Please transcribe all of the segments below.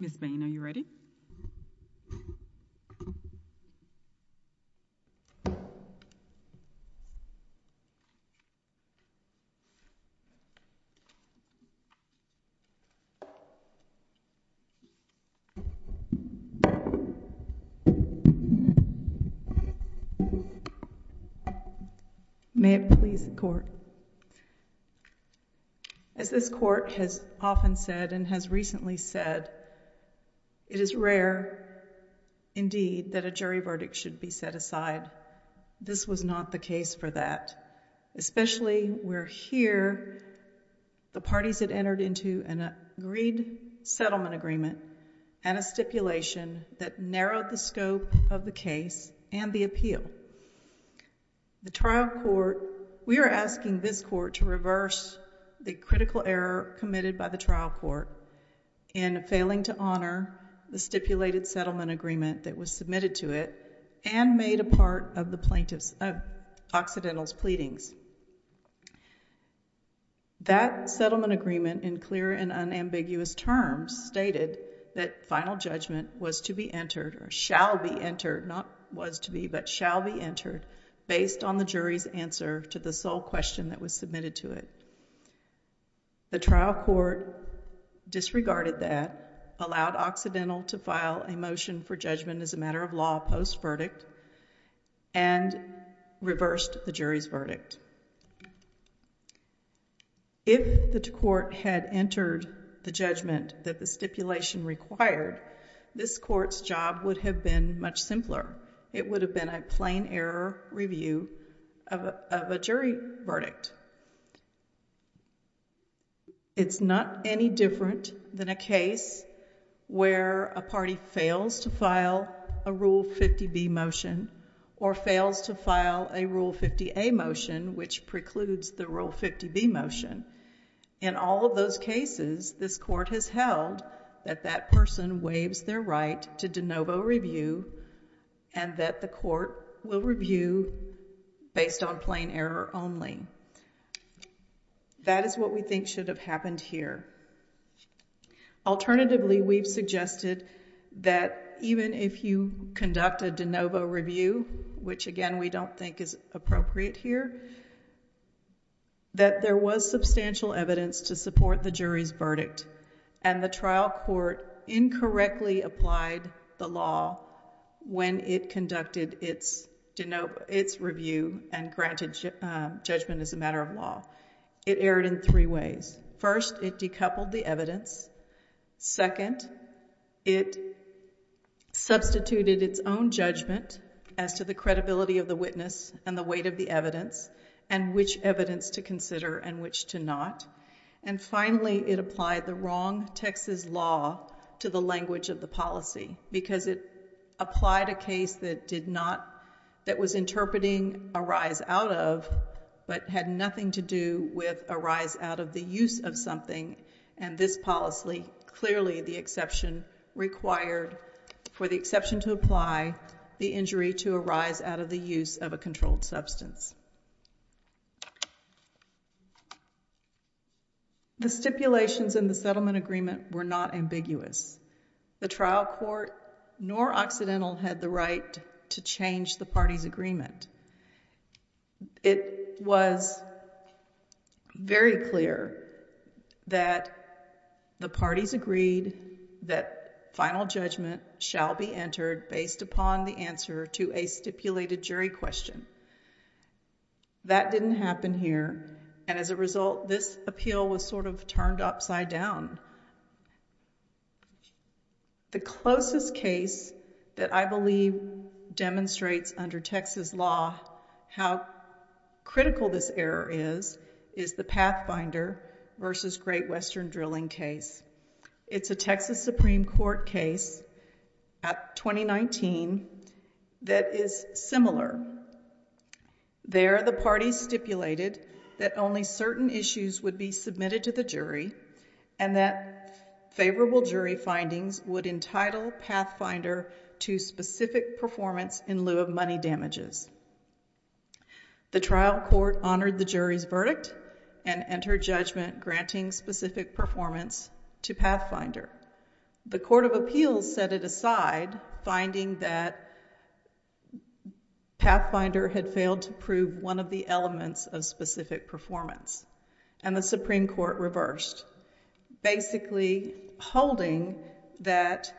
Ms. Bain, are you ready? May it please the Court. As this Court has often said and has recently said, it is rare, indeed, that a jury verdict should be set aside. This was not the case for that, especially where here the parties had entered into an agreed settlement agreement and a stipulation that narrowed the scope of the case and the The trial court, we are asking this Court to reverse the critical error committed by the trial court in failing to honor the stipulated settlement agreement that was submitted to it and made a part of the plaintiff's, of Occidental's pleadings. That settlement agreement in clear and unambiguous terms stated that final judgment was to be entered or shall be entered, not was to be, but shall be entered based on the jury's answer to the sole question that was submitted to it. The trial court disregarded that, allowed Occidental to file a motion for judgment as a matter of law post-verdict, and reversed the jury's verdict. If the court had entered the judgment that the stipulation required, this Court's job would have been much simpler. It would have been a plain error review of a jury verdict. It's not any different than a case where a party fails to file a Rule 50B motion or fails to file a Rule 50A motion, which precludes the Rule 50B motion. In all of those cases, this Court has held that that person waives their right to de error only. That is what we think should have happened here. Alternatively, we've suggested that even if you conduct a de novo review, which again, we don't think is appropriate here, that there was substantial evidence to support the jury's verdict and the trial court incorrectly applied the law when it conducted its de novo, its judgment as a matter of law. It erred in three ways. First, it decoupled the evidence. Second, it substituted its own judgment as to the credibility of the witness and the weight of the evidence, and which evidence to consider and which to not. And finally, it applied the wrong Texas law to the language of the policy, because it applied a case that did not, that was interpreting a rise out of, but had nothing to do with a rise out of the use of something. And this policy, clearly the exception required for the exception to apply, the injury to arise out of the use of a controlled substance. The stipulations in the settlement agreement were not ambiguous. The trial court nor Occidental had the right to change the party's agreement. It was very clear that the parties agreed that final judgment shall be entered based upon the answer to a stipulated jury question. That didn't happen here, and as a result, this appeal was sort of turned upside down. The closest case that I believe demonstrates under Texas law how critical this error is, is the Pathfinder versus Great Western Drilling case. It's a Texas Supreme Court case at 2019 that is similar. There the parties stipulated that only certain issues would be submitted to the jury and that favorable jury findings would entitle Pathfinder to specific performance in lieu of money damages. The trial court honored the jury's verdict and entered judgment granting specific performance to Pathfinder. The court of appeals set it aside, finding that Pathfinder had failed to prove one of the elements of specific performance. And the Supreme Court reversed, basically holding that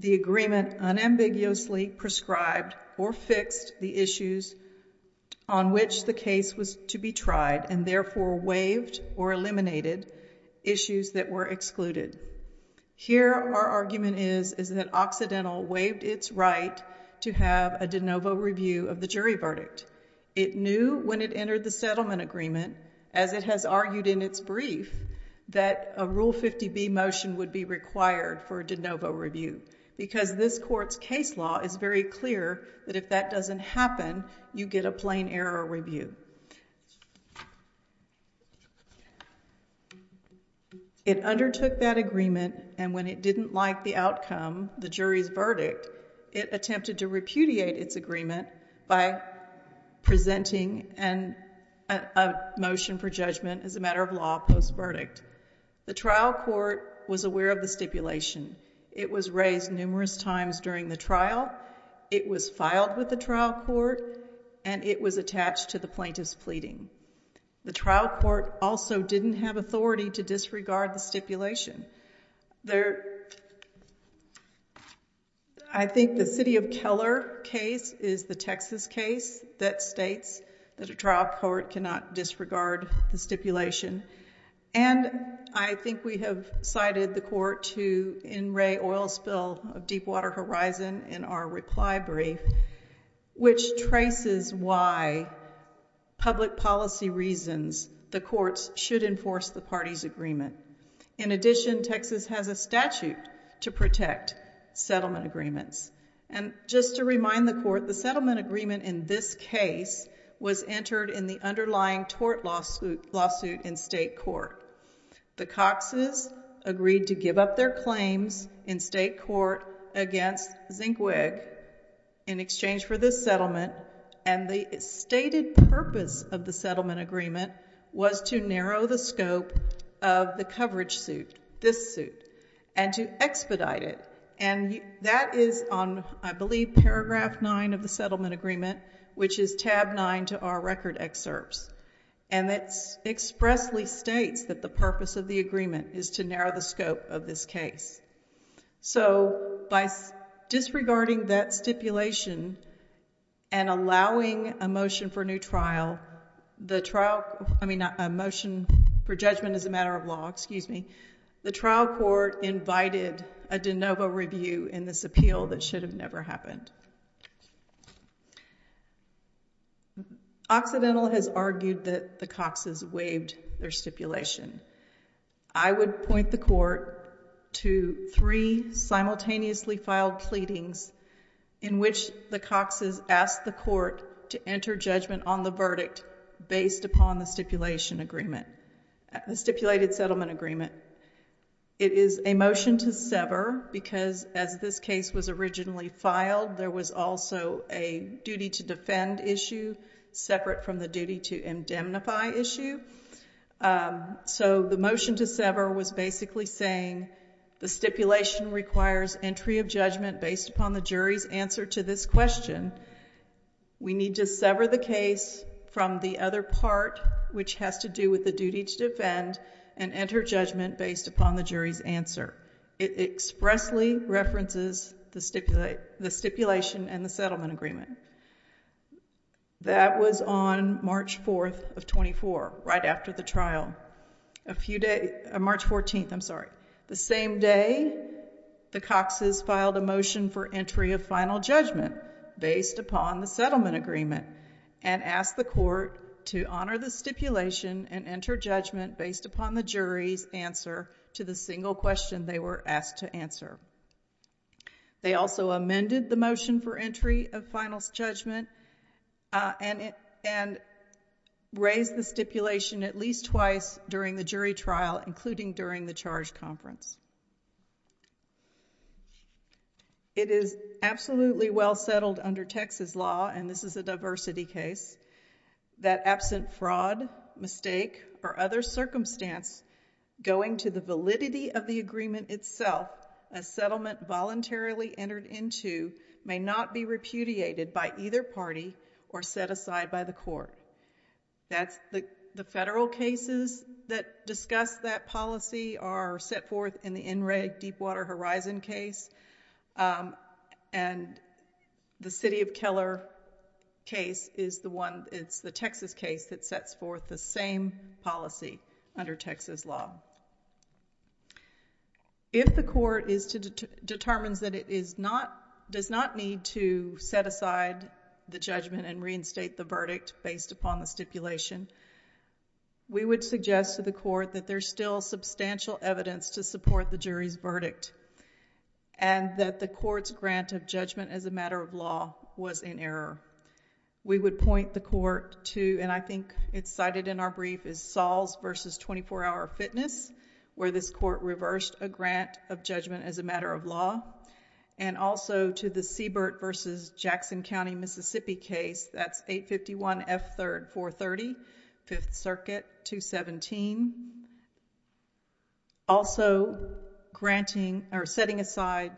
the agreement unambiguously prescribed or fixed the issues on which the case was to be tried and therefore waived or eliminated issues that were excluded. Here our argument is that Occidental waived its right to have a de novo review of the jury verdict. It knew when it entered the settlement agreement, as it has argued in its brief, that a Rule 50B motion would be required for a de novo review because this court's case law is very clear that if that doesn't happen, you get a plain error review. It undertook that agreement and when it didn't like the outcome, the jury's verdict, it attempted to repudiate its agreement by presenting a motion for judgment as a matter of law post-verdict. The trial court was aware of the stipulation. It was raised numerous times during the trial. It was filed with the trial court and it was attached to the plaintiff's pleading. The trial court also didn't have authority to disregard the stipulation. I think the city of Keller case is the Texas case that states that a trial court cannot disregard the stipulation. And I think we have cited the court to in re oil spill of Deepwater Horizon in our reply brief, which traces why public policy reasons, the courts should enforce the party's agreement. In addition, Texas has a statute to protect settlement agreements. And just to remind the court, the settlement agreement in this case was entered in the underlying tort lawsuit in state court. The Cox's agreed to give up their claims in state court against Zinkweg in exchange for this settlement and the stated purpose of the settlement agreement was to narrow the scope of the coverage suit, this suit, and to expedite it. And that is on, I believe, paragraph nine of the settlement agreement, which is tab nine to our record excerpts. And it's expressly states that the purpose of the agreement is to narrow the scope of this case. So by disregarding that stipulation and allowing a motion for new trial, the trial, I mean, a motion for judgment as a matter of law, excuse me, the trial court invited a de novo review in this appeal that should have never happened. Occidental has argued that the Cox's waived their stipulation. I would point the court to three simultaneously filed pleadings in which the Cox's asked the court to enter judgment on the verdict based upon the stipulated settlement agreement. It is a motion to sever because as this case was originally filed, there was also a duty to defend issue separate from the duty to indemnify issue. So the motion to sever was basically saying the stipulation requires entry of judgment based upon the jury's answer to this question. We need to sever the case from the other part, which has to do with the duty to defend and enter judgment based upon the jury's answer. It expressly references the stipulation and the settlement agreement. That was on March 4th of 24, right after the trial. A few days, March 14th, I'm sorry. The same day, the Cox's filed a motion for entry of final judgment based upon the settlement agreement and asked the court to honor the stipulation and enter judgment based upon the jury's answer to the single question they were asked to answer. They also amended the motion for entry of final judgment and raised the stipulation at least twice during the jury trial, including during the charge conference. It is absolutely well settled under Texas law, and this is a diversity case, that absent fraud, mistake, or other circumstance going to the validity of the agreement itself, a settlement voluntarily entered into may not be repudiated by either party or set aside by the court. The federal cases that discuss that policy are set forth in the NREG Deepwater Horizon case and the City of Keller case is the one, it's the Texas case that sets forth the same policy under Texas law. If the court determines that it does not need to set aside the judgment and reinstate the verdict based upon the stipulation, we would suggest to the court that there's still substantial evidence to support the jury's verdict and that the court's grant of judgment as a matter of law was in error. We would point the court to, and I think it's cited in our brief, is Sahls v. 24 Hour Fitness, where this court reversed a grant of judgment as a matter of law, and also to the Siebert v. Jackson County, Mississippi case, that's 851F430, Fifth Circuit, 217, also granting or setting aside,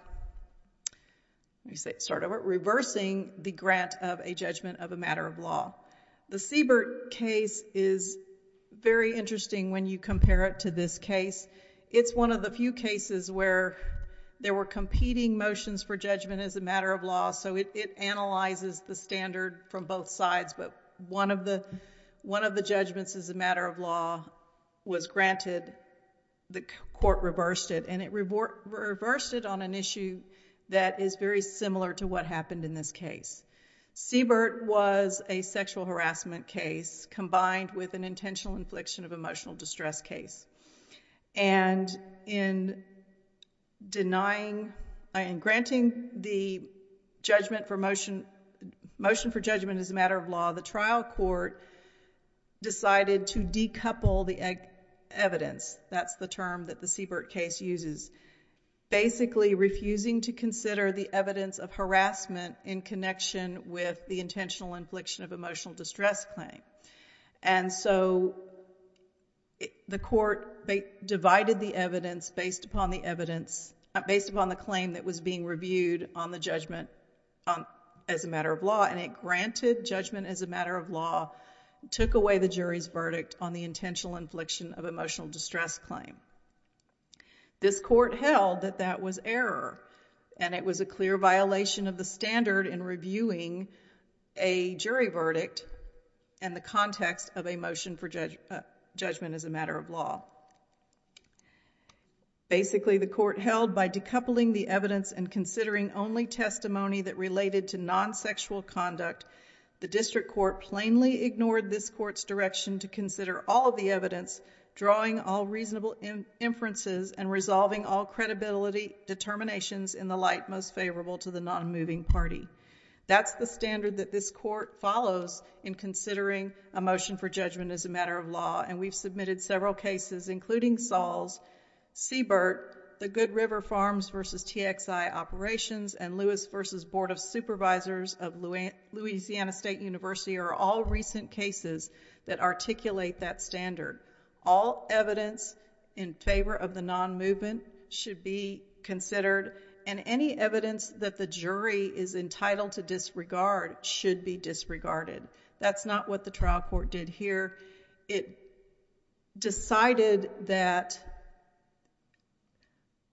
let me start over, reversing the grant of a judgment of a matter of law. The Siebert case is very interesting when you compare it to this case. It's one of the few cases where there were competing motions for judgment as a matter of law, so it analyzes the standard from both sides, but one of the judgments as a matter of law was granted. The court reversed it, and it reversed it on an issue that is very similar to what happened in this case. Siebert was a sexual harassment case combined with an intentional infliction of emotional judgment for motion, motion for judgment as a matter of law, the trial court decided to decouple the evidence, that's the term that the Siebert case uses, basically refusing to consider the evidence of harassment in connection with the intentional infliction of emotional distress claim. And so the court divided the evidence based upon the evidence, based upon the claim that was being reviewed on the judgment as a matter of law, and it granted judgment as a matter of law, took away the jury's verdict on the intentional infliction of emotional distress claim. This court held that that was error, and it was a clear violation of the standard in reviewing a jury verdict in the context of a motion for judgment as a matter of law. Basically, the court held by decoupling the evidence and considering only testimony that related to non-sexual conduct, the district court plainly ignored this court's direction to consider all of the evidence, drawing all reasonable inferences, and resolving all credibility determinations in the light most favorable to the non-moving party. That's the standard that this court follows in considering a motion for judgment as a matter of law, because including Saul's, Siebert, the Good River Farms v. TXI operations, and Lewis v. Board of Supervisors of Louisiana State University are all recent cases that articulate that standard. All evidence in favor of the non-movement should be considered, and any evidence that the jury is entitled to disregard should be disregarded. That's not what the trial court did here. It decided that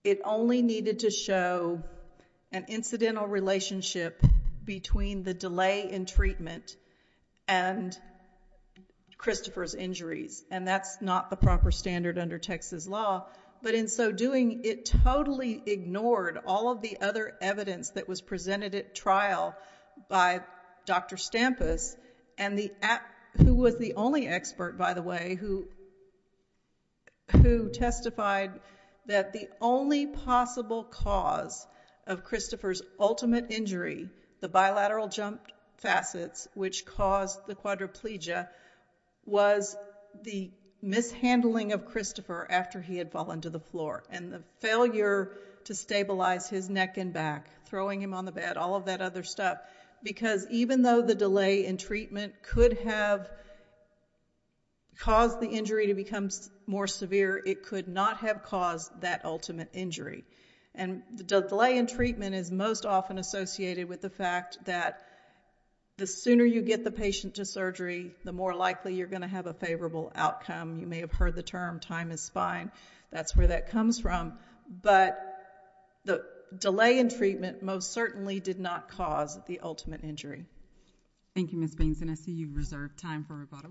it only needed to show an incidental relationship between the delay in treatment and Christopher's injuries, and that's not the proper standard under Texas law. But in so doing, it totally ignored all of the other evidence that was presented at trial by Dr. Stampus, who was the only expert, by the way, who testified that the only possible cause of Christopher's ultimate injury, the bilateral jump facets which caused the quadriplegia, was the mishandling of Christopher after he had fallen to the floor, and the failure to stabilize his neck and back, throwing him on the bed, all of that other stuff, because even though the delay in treatment could have caused the injury to become more severe, it could not have caused that ultimate injury. And the delay in treatment is most often associated with the fact that the sooner you get the patient to surgery, the more likely you're going to have a favorable outcome. You may have heard the term, time is fine. That's where that comes from. But the delay in treatment most certainly did not cause the ultimate injury. Thank you, Ms. Baines, and I see you've reserved time for rebuttal.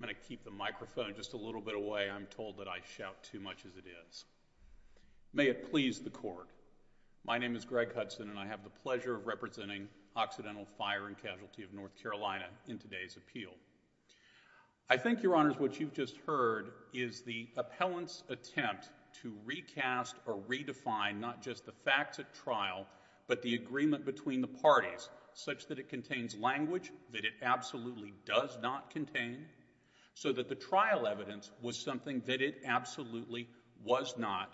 I'm going to keep the microphone just a little bit away. I'm told that I shout too much as it is. May it please the Court, my name is Greg Hudson, and I have the pleasure of representing Occidental Fire and Casualty of North Carolina in today's appeal. I think, Your Honors, what you've just heard is the appellant's attempt to recast or redefine not just the facts at trial, but the agreement between the parties, such that it contains language that it absolutely does not contain, so that the trial evidence was something that it absolutely was not,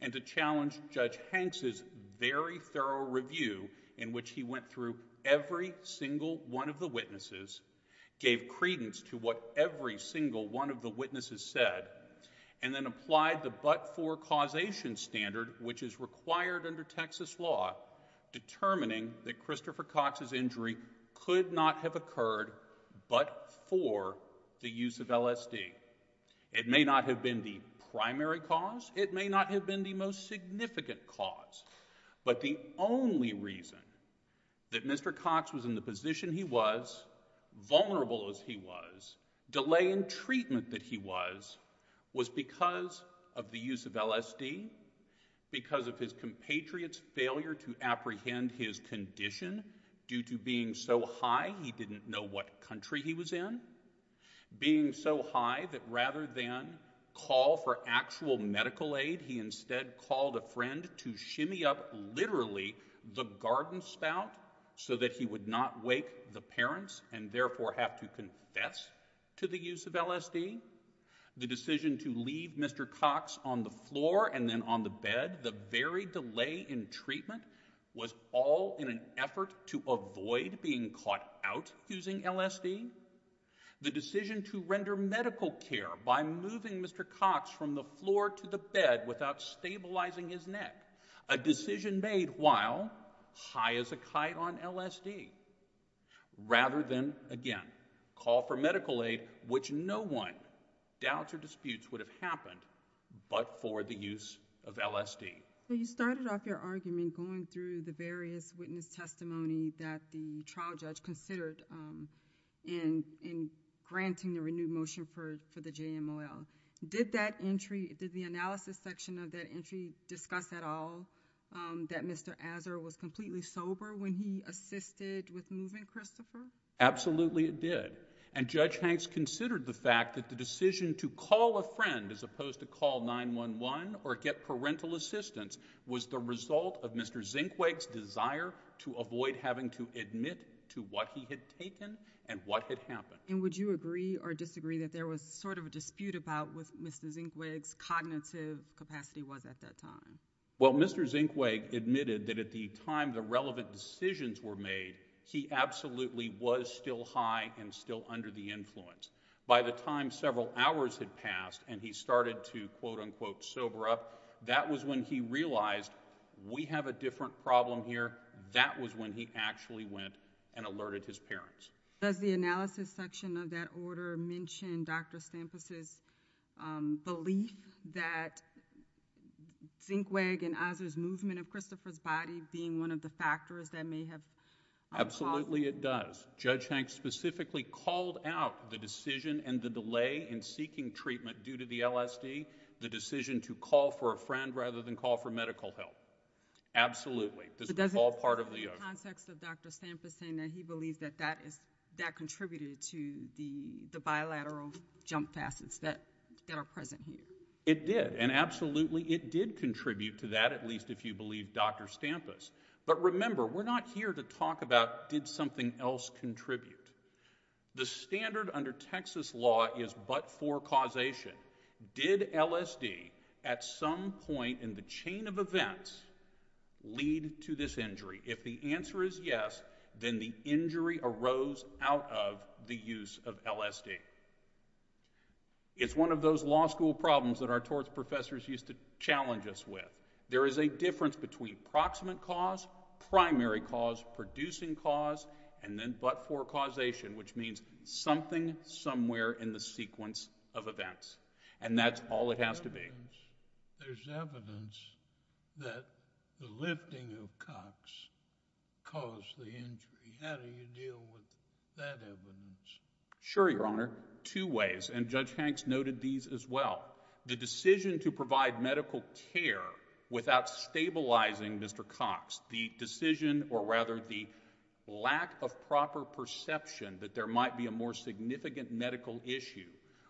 and to challenge Judge Hanks's very thorough review in which he went through every single one of the witnesses, gave credence to what every single one of the witnesses said, and then applied the but-for causation standard, which is required under Texas law, determining that Christopher Cox's injury could not have occurred but for the use of LSD. It may not have been the primary cause, it may not have been the most significant cause, but the only reason that Mr. Cox was in the position he was, vulnerable as he was, delay in treatment that he was, was because of the use of LSD, because of his compatriot's failure to apprehend his condition due to being so high he didn't know what country he was in, being so high that rather than call for actual medical aid, he instead called a friend to shimmy up literally the garden spout so that he would not wake the parents, and therefore have to confess to the use of LSD. The decision to leave Mr. Cox on the floor and then on the bed, the very delay in treatment, was all in an effort to avoid being caught out using LSD. The decision to render medical care by moving Mr. Cox from the floor to the bed without stabilizing his neck, a decision made while high as a kite on LSD, rather than again call for medical aid, which no one doubts or disputes would have happened but for the use of LSD. You started off your argument going through the various witness testimony that the trial judge considered in granting the renewed motion for the JMOL. Did that entry, did the analysis section of that entry discuss at all that Mr. Azar was completely sober when he assisted with moving Christopher? Absolutely it did, and Judge Hanks considered the fact that the decision to call a friend as opposed to call 911 or get parental assistance was the result of Mr. Zinkweg's desire to avoid having to admit to what he had taken and what had happened. And would you agree or disagree that there was sort of a dispute about what Mr. Zinkweg's cognitive capacity was at that time? Well Mr. Zinkweg admitted that at the time the relevant decisions were made, he absolutely was still high and still under the influence. By the time several hours had passed and he started to quote unquote sober up, that was when he realized we have a different problem here, that was when he actually went and alerted his parents. Does the analysis section of that order mention Dr. Stampas' belief that Zinkweg and Azar's movement of Christopher's body being one of the factors that may have caused? Absolutely it does. Judge Hanks specifically called out the decision and the delay in seeking treatment due to the LSD, the decision to call for a friend rather than call for medical help. Absolutely. But doesn't the context of Dr. Stampas saying that he believes that contributed to the bilateral jump facets that are present here? It did and absolutely it did contribute to that at least if you believe Dr. Stampas. But remember we're not here to talk about did something else contribute. The standard under Texas law is but for causation. Did LSD at some point in the chain of events lead to this injury? If the answer is yes, then the injury arose out of the use of LSD. It's one of those law school problems that our torts professors used to challenge us with. There is a difference between proximate cause, primary cause, producing cause and then but for causation which means something somewhere in the sequence of events and that's all it has to be. There's evidence that the lifting of Cox caused the injury. How do you deal with that evidence? Sure Your Honor. Two ways and Judge Hanks noted these as well. The decision to provide medical care without stabilizing Mr. Cox. The decision or rather the lack of proper perception that there might be a more significant medical issue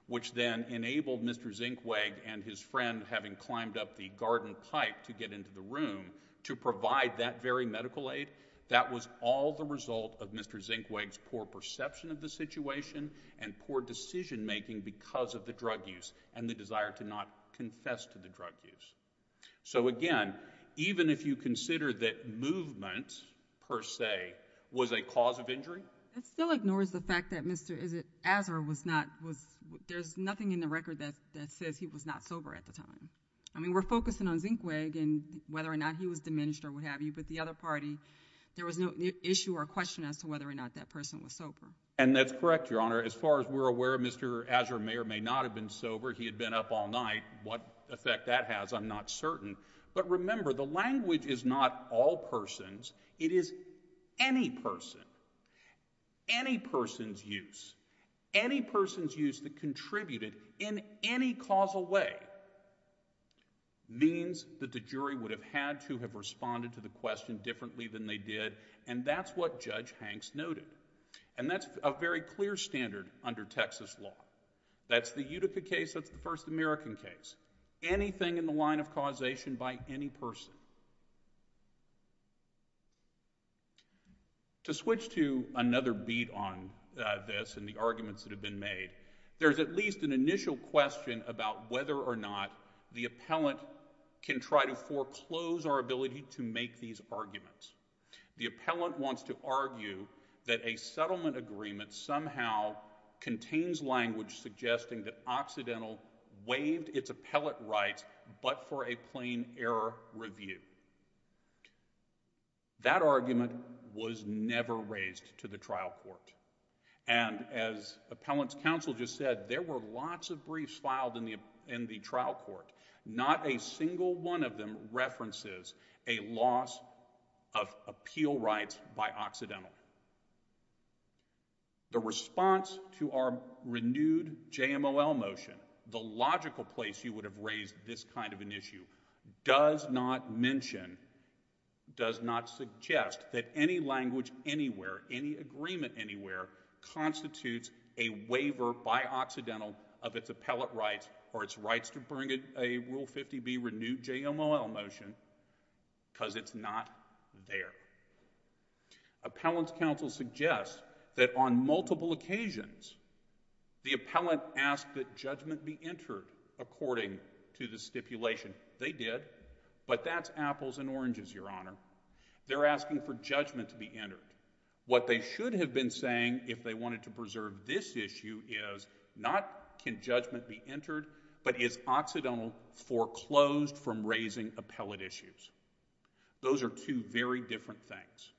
which then enabled Mr. Zinkweg and his friend having climbed up the garden pipe to get into the room to provide that very medical aid. That was all the result of Mr. Zinkweg's poor perception of the situation and poor decision making because of the drug use and the desire to not confess to the drug use. So again, even if you consider that movement per se was a cause of injury. It still ignores the fact that Mr. Azar was not, there's nothing in the record that says he was not sober at the time. I mean we're focusing on Zinkweg and whether or not he was diminished or what have you but the other party there was no issue or question as to whether or not that person was sober. And that's correct Your Honor. As far as we're aware Mr. Azar may or may not have been sober. He had been up all night. What effect that has I'm not certain but remember the language is not all persons. It is any person. Any person's use. Any person's use that contributed in any causal way means that the jury would have had to have responded to the question differently than they did and that's what Judge Hanks noted. And that's a very clear standard under Texas law. That's the Utica case. That's the first American case. Anything in the line of causation by any person. To switch to another beat on this and the arguments that have been made, there's at least an initial question about whether or not the appellant can try to foreclose our ability to make these arguments. The appellant wants to argue that a settlement agreement somehow contains language suggesting that Occidental waived its appellate rights but for a plain error review. That argument was never raised to the trial court and as appellant's said there were lots of briefs filed in the trial court. Not a single one of them references a loss of appeal rights by Occidental. The response to our renewed JMOL motion, the logical place you would have raised this kind of an issue, does not mention, does not suggest that any language anywhere, any agreement anywhere, constitutes a waiver by Occidental of its appellate rights or its rights to bring a Rule 50B renewed JMOL motion because it's not there. Appellant's counsel suggests that on multiple occasions the appellant asked that judgment be entered according to the stipulation. They did but that's apples and oranges, Your Honor. They're asking for judgment to be entered. What they should have been saying if they wanted to preserve this issue is not can judgment be entered but is Occidental foreclosed from raising appellate issues? Those are two very different things.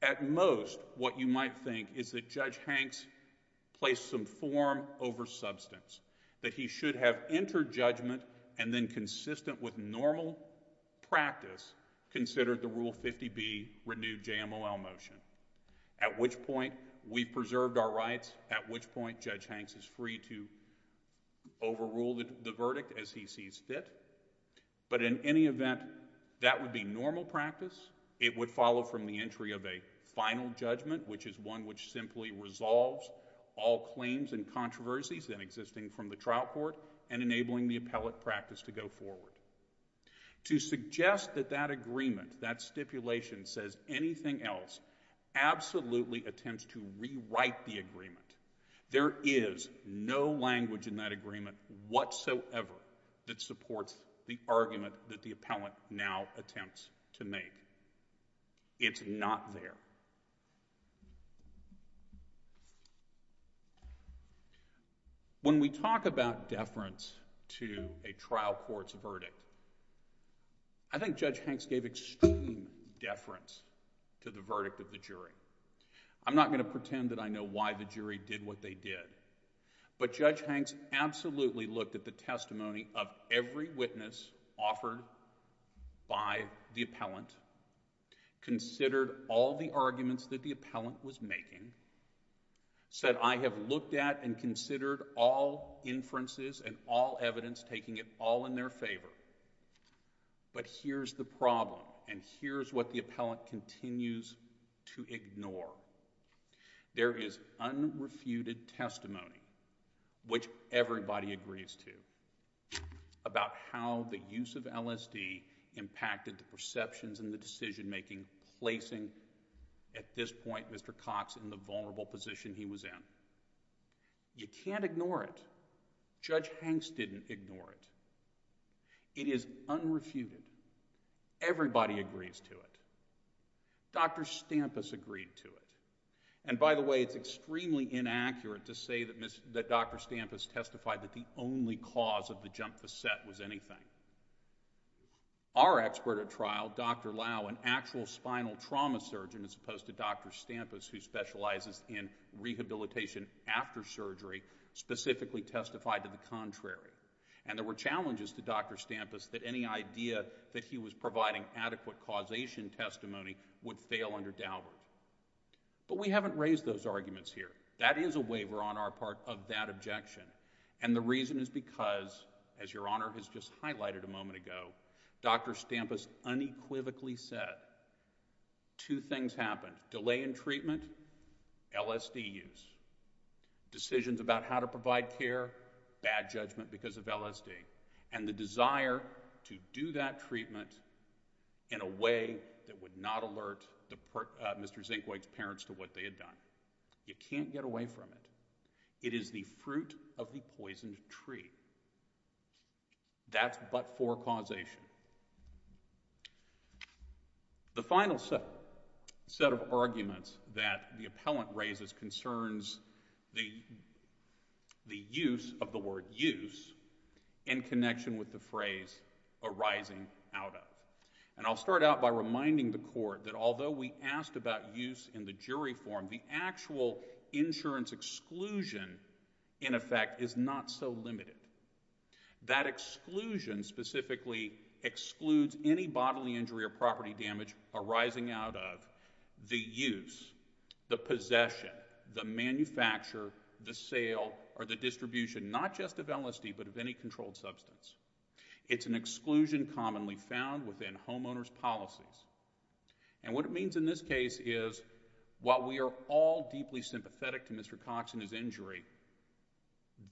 At most what you might think is that Judge Hanks placed some form over substance, that he should have entered judgment and then consistent with normal practice, considered the Rule 50B renewed JMOL motion. At which point we preserved our rights, at which point Judge Hanks is free to overrule the verdict as he sees fit. But in any event, that would be normal practice. It would follow from the entry of a final judgment which is one which simply resolves all claims and controversies that are existing from the trial court and enabling the appellate practice to go forward. To suggest that that agreement, that stipulation says anything else absolutely attempts to rewrite the agreement. There is no language in that agreement whatsoever that supports the argument that the appellant now attempts to make. It's not there. When we talk about deference to a trial court's verdict, I think Judge Hanks gave extreme deference to the verdict of the jury. I'm not going to pretend that I know why the jury did what they did. But Judge Hanks absolutely looked at the testimony of every witness offered by the appellant, considered all the arguments that the appellant was making, said I have looked at and considered all inferences and all evidence, taking it all in their favor. But here's the problem and here's what the appellant continues to ignore. There is unrefuted testimony, which everybody agrees to, about how the use of LSD impacted the perceptions and the decision making placing, at this point, Mr. Cox in the vulnerable position he was in. You can't ignore it. Judge Hanks didn't ignore it. It is unrefuted. Everybody agrees to it. Dr. Stampus agreed to it. And by the way, it's extremely inaccurate to say that Dr. Stampus testified that the only cause of the jump facet was anything. Our expert at trial, Dr. Lau, an actual spinal trauma surgeon, as opposed to Dr. Stampus, who specializes in rehabilitation after surgery, specifically testified to the contrary. And there were challenges to Dr. Stampus that any idea that he was providing adequate causation testimony would fail under Daubert. But we haven't raised those arguments here. That is a waiver on our part of that objection. And the reason is because, as Your Honor has just highlighted a moment ago, Dr. Stampus unequivocally said, two things happened. Delay in treatment, LSD use. Decisions about how to provide care, bad judgment because of LSD. And the desire to do that treatment in a way that would not alert Mr. Zinkwage's parents to what they had done. You can't get away from it. It is the fruit of the poisoned tree. That's but for causation. The final set of arguments that the appellant raises concerns the use of the word use in connection with the phrase arising out of. And I'll start out by reminding the court that although we asked about use in the jury form, the actual insurance exclusion in effect is not so limited. That exclusion specifically excludes any bodily injury or property damage arising out of the use, the possession, the manufacture, the sale, or the distribution, not just of LSD, but of any controlled substance. It's an exclusion commonly found within homeowner's policies. And what it means in this case is while we are all deeply sympathetic to Mr. Cox and his injury,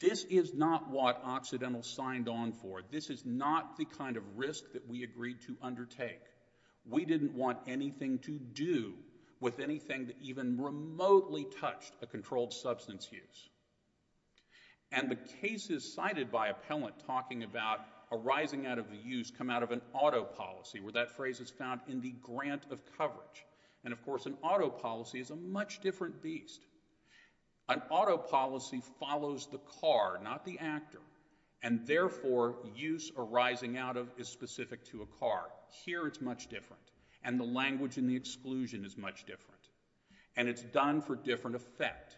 this is not what Occidental signed on for. This is not the kind of risk that we agreed to undertake. We didn't want anything to do with anything that even remotely touched a controlled substance use. And the cases cited by appellant talking about arising out of the use come out of an auto policy where that phrase is found in the grant of coverage. And of course an auto policy is a much different beast. An auto policy follows the car, not the actor, and therefore use arising out of is specific to a car. Here it's much different. And the language and the exclusion is much different. And it's done for different effect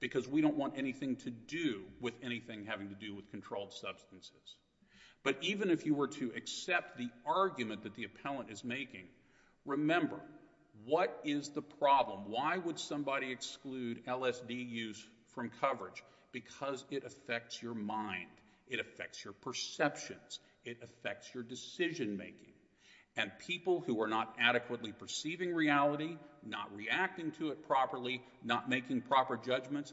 because we don't want anything to do with anything having to do with controlled substances. But even if you were to accept the argument that the appellant is making, remember, what is the problem? Why would somebody exclude LSD use from coverage? Because it affects your mind. It affects your perceptions. It affects your decision making. And people who are not adequately perceiving reality, not reacting to it properly, not making proper judgments,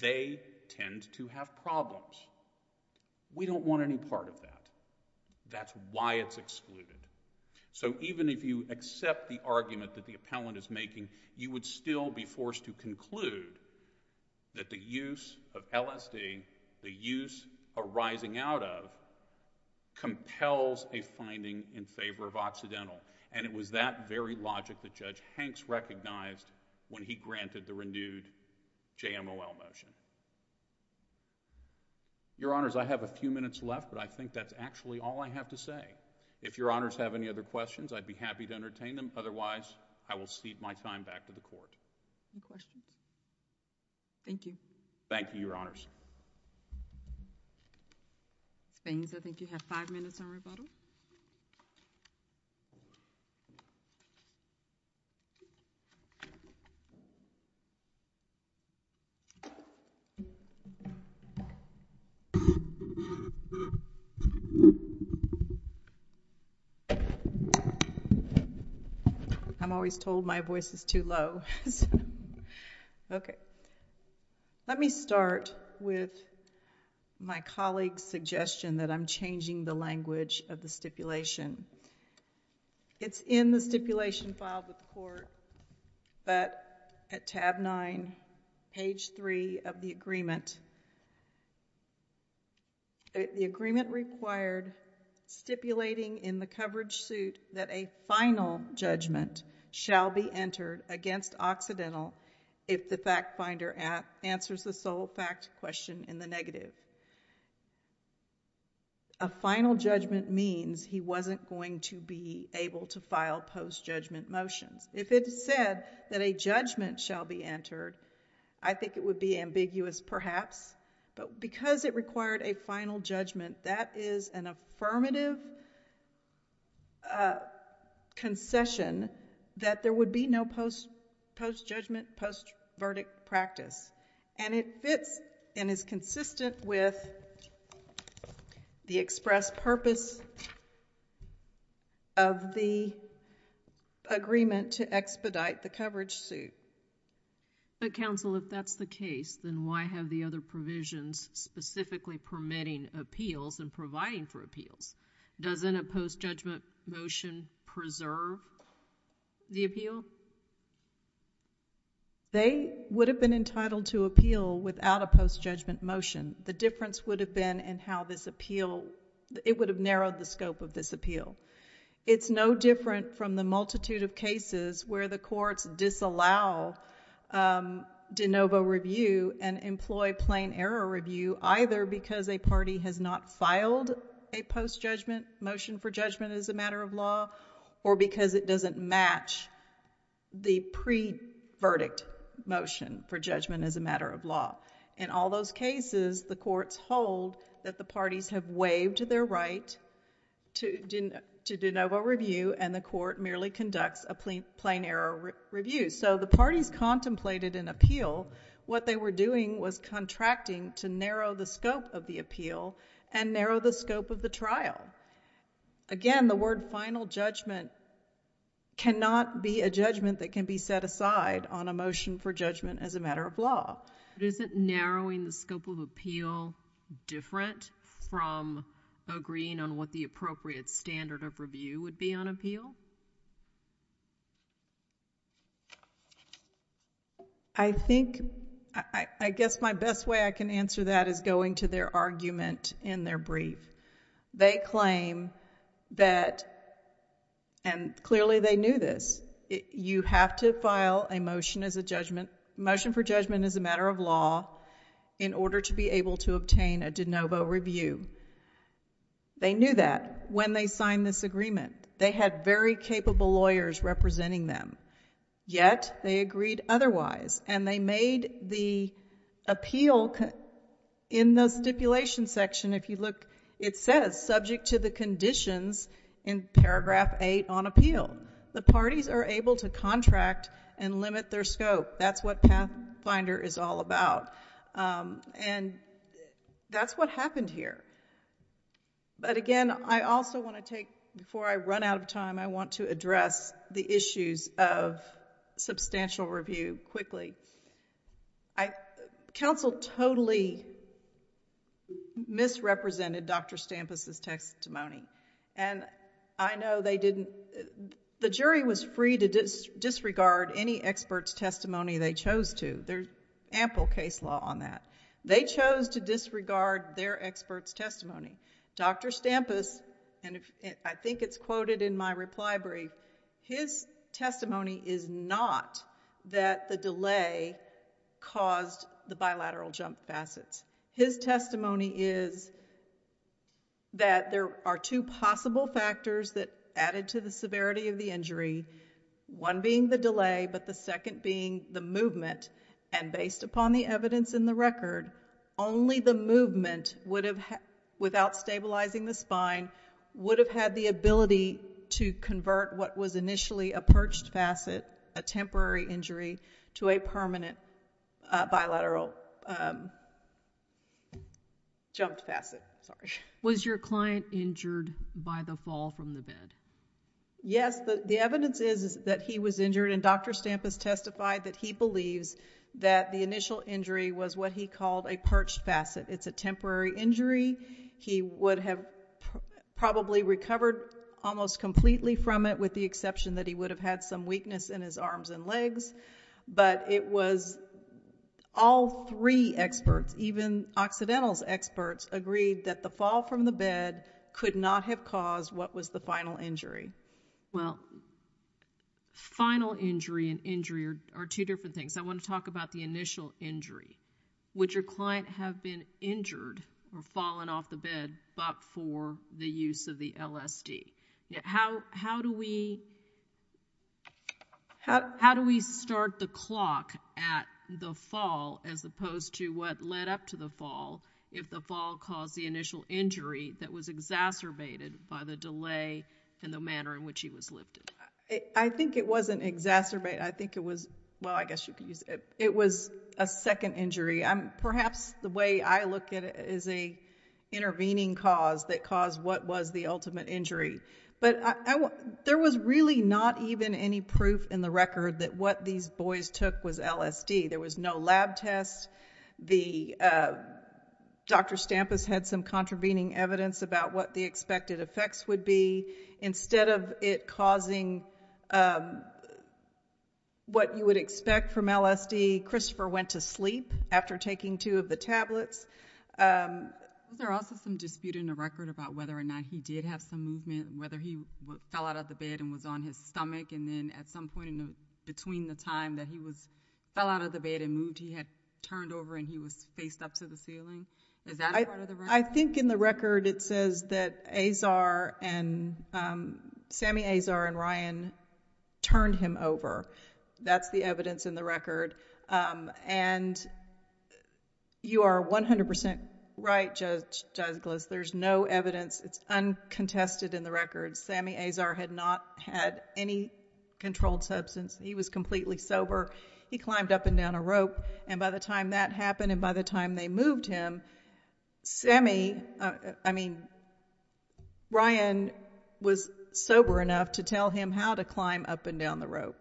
they tend to have problems. We don't want any part of that. That's why it's excluded. So even if you accept the argument that the appellant is making, you would still be forced to conclude that the use of LSD, the use arising out of, compels a finding in favor of Occidental. And it was that very logic that Judge Hanks recognized when he granted the renewed JMLL motion. Your Honors, I have a few minutes left, but I think that's actually all I have to say. If Your Honors have any other questions, I'd be happy to entertain them. Otherwise, I will cede my time back to the Court. Any questions? Thank you. Thank you, Your Honors. Ms. Baines, I think you have five minutes on rebuttal. I'm always told my voice is too low. Okay. Let me start with my colleague's suggestion that I'm changing the language of the stipulation. It's in the stipulation filed with the Court, but at tab 9, page 3 of the agreement, the agreement required stipulating in the coverage suit that a final judgment shall be entered against Occidental if the fact finder answers the sole fact question in the negative. A final judgment means he wasn't going to be able to file post-judgment motions. If it said that a judgment shall be entered, I think it would be ambiguous, perhaps, but because it required a final judgment, that is an affirmative concession that there would be no post-judgment, post-verdict practice. And it fits and is consistent with the express purpose of the statute. The agreement to expedite the coverage suit. But, counsel, if that's the case, then why have the other provisions specifically permitting appeals and providing for appeals? Doesn't a post-judgment motion preserve the appeal? They would have been entitled to appeal without a post-judgment motion. The difference would have been in how this appeal, it would have narrowed the scope of this appeal. It's no different from the multitude of cases where the courts disallow de novo review and employ plain error review, either because a party has not filed a post-judgment motion for judgment as a matter of law or because it doesn't match the pre-verdict motion for judgment as a matter of law. In all those cases, the courts hold that the parties have waived their right to de novo review and the court merely conducts a plain error review. So the parties contemplated an appeal. What they were doing was contracting to narrow the scope of the appeal and narrow the scope of the trial. Again, the word final judgment cannot be a judgment that can be set aside on a motion for judgment as a matter of law. But isn't narrowing the scope of appeal different from agreeing on what the appropriate standard of review would be on appeal? I think, I guess my best way I can answer that is going to their argument in their brief. They claim that, and clearly they knew this, you have to file a motion for judgment as a matter of law in order to be able to obtain a de novo review. They knew that when they signed this agreement. They had very capable lawyers representing them. Yet, they agreed otherwise. And they made the appeal in the stipulation section, if you look, it says subject to the conditions in paragraph 8 on appeal. The parties are able to contract and limit their scope. That's what Pathfinder is all about. And that's what happened here. But again, I also want to take, before I run out of time, I want to address the issues of substantial review quickly. Counsel totally misrepresented Dr. Stampus' testimony. And I know they didn't, the jury was free to disregard any expert's testimony they chose to. There's ample case law on that. They chose to disregard their expert's testimony. Dr. Stampus, and I think it's quoted in my reply brief, his testimony is not that the delay caused the bilateral jump facets. His testimony is that there are two possible factors that added to the severity of the injury. One being the delay, but the second being the movement. And based upon the evidence in the record, only the movement, without stabilizing the spine, would have had the ability to convert what was initially a perched facet, a temporary injury, to a permanent bilateral jumped facet. Was your client injured by the fall from the bed? Yes. The evidence is that he was injured. And Dr. Stampus testified that he believes that the initial injury was what he called a perched facet. It's a temporary injury. He would have probably recovered almost completely from it, with the exception that he would have had some weakness in his arms and legs. But it was all three experts, even Occidental's experts, agreed that the fall from the bed could not have caused what was the final injury. Final injury and injury are two different things. I want to talk about the initial injury. Would your client have been injured or fallen off the bed, but for the use of the LSD? How do we start the clock at the fall, as opposed to what led up to the fall, if the fall caused the initial injury that was exacerbated by the delay in the manner in which he was lifted? I think it wasn't exacerbated. I think it was a second injury. Perhaps the way I look at it is an intervening cause that caused what was the ultimate injury. But there was really not even any proof in the record that what these boys took was LSD. There was no lab test. Dr. Stampus had some contravening evidence about what the expected effects would be. Instead of it causing what you would expect from LSD, Christopher went to sleep after taking two of the tablets. Was there also some dispute in the record about whether or not he did have some movement, whether he fell out of the bed and was on his stomach, and then at some point in between the time that he fell out of the bed and moved, he had turned over and he was faced up to the ceiling? Is that a part of the record? I think in the record it says that Sami Azar and Ryan turned him over. That's the evidence in the record. You are 100% right, Judge Douglas. There's no evidence. It's uncontested in the record. Sami Azar had not had any controlled substance. He was completely sober. He climbed up and down a rope. By the time that happened and by the time they moved him, Ryan was sober enough to tell him how to climb up and down the rope.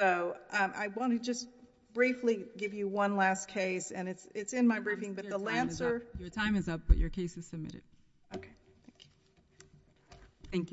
I want to just briefly give you one last case. It's in my briefing. Your time is up, but your case is submitted. Thank you.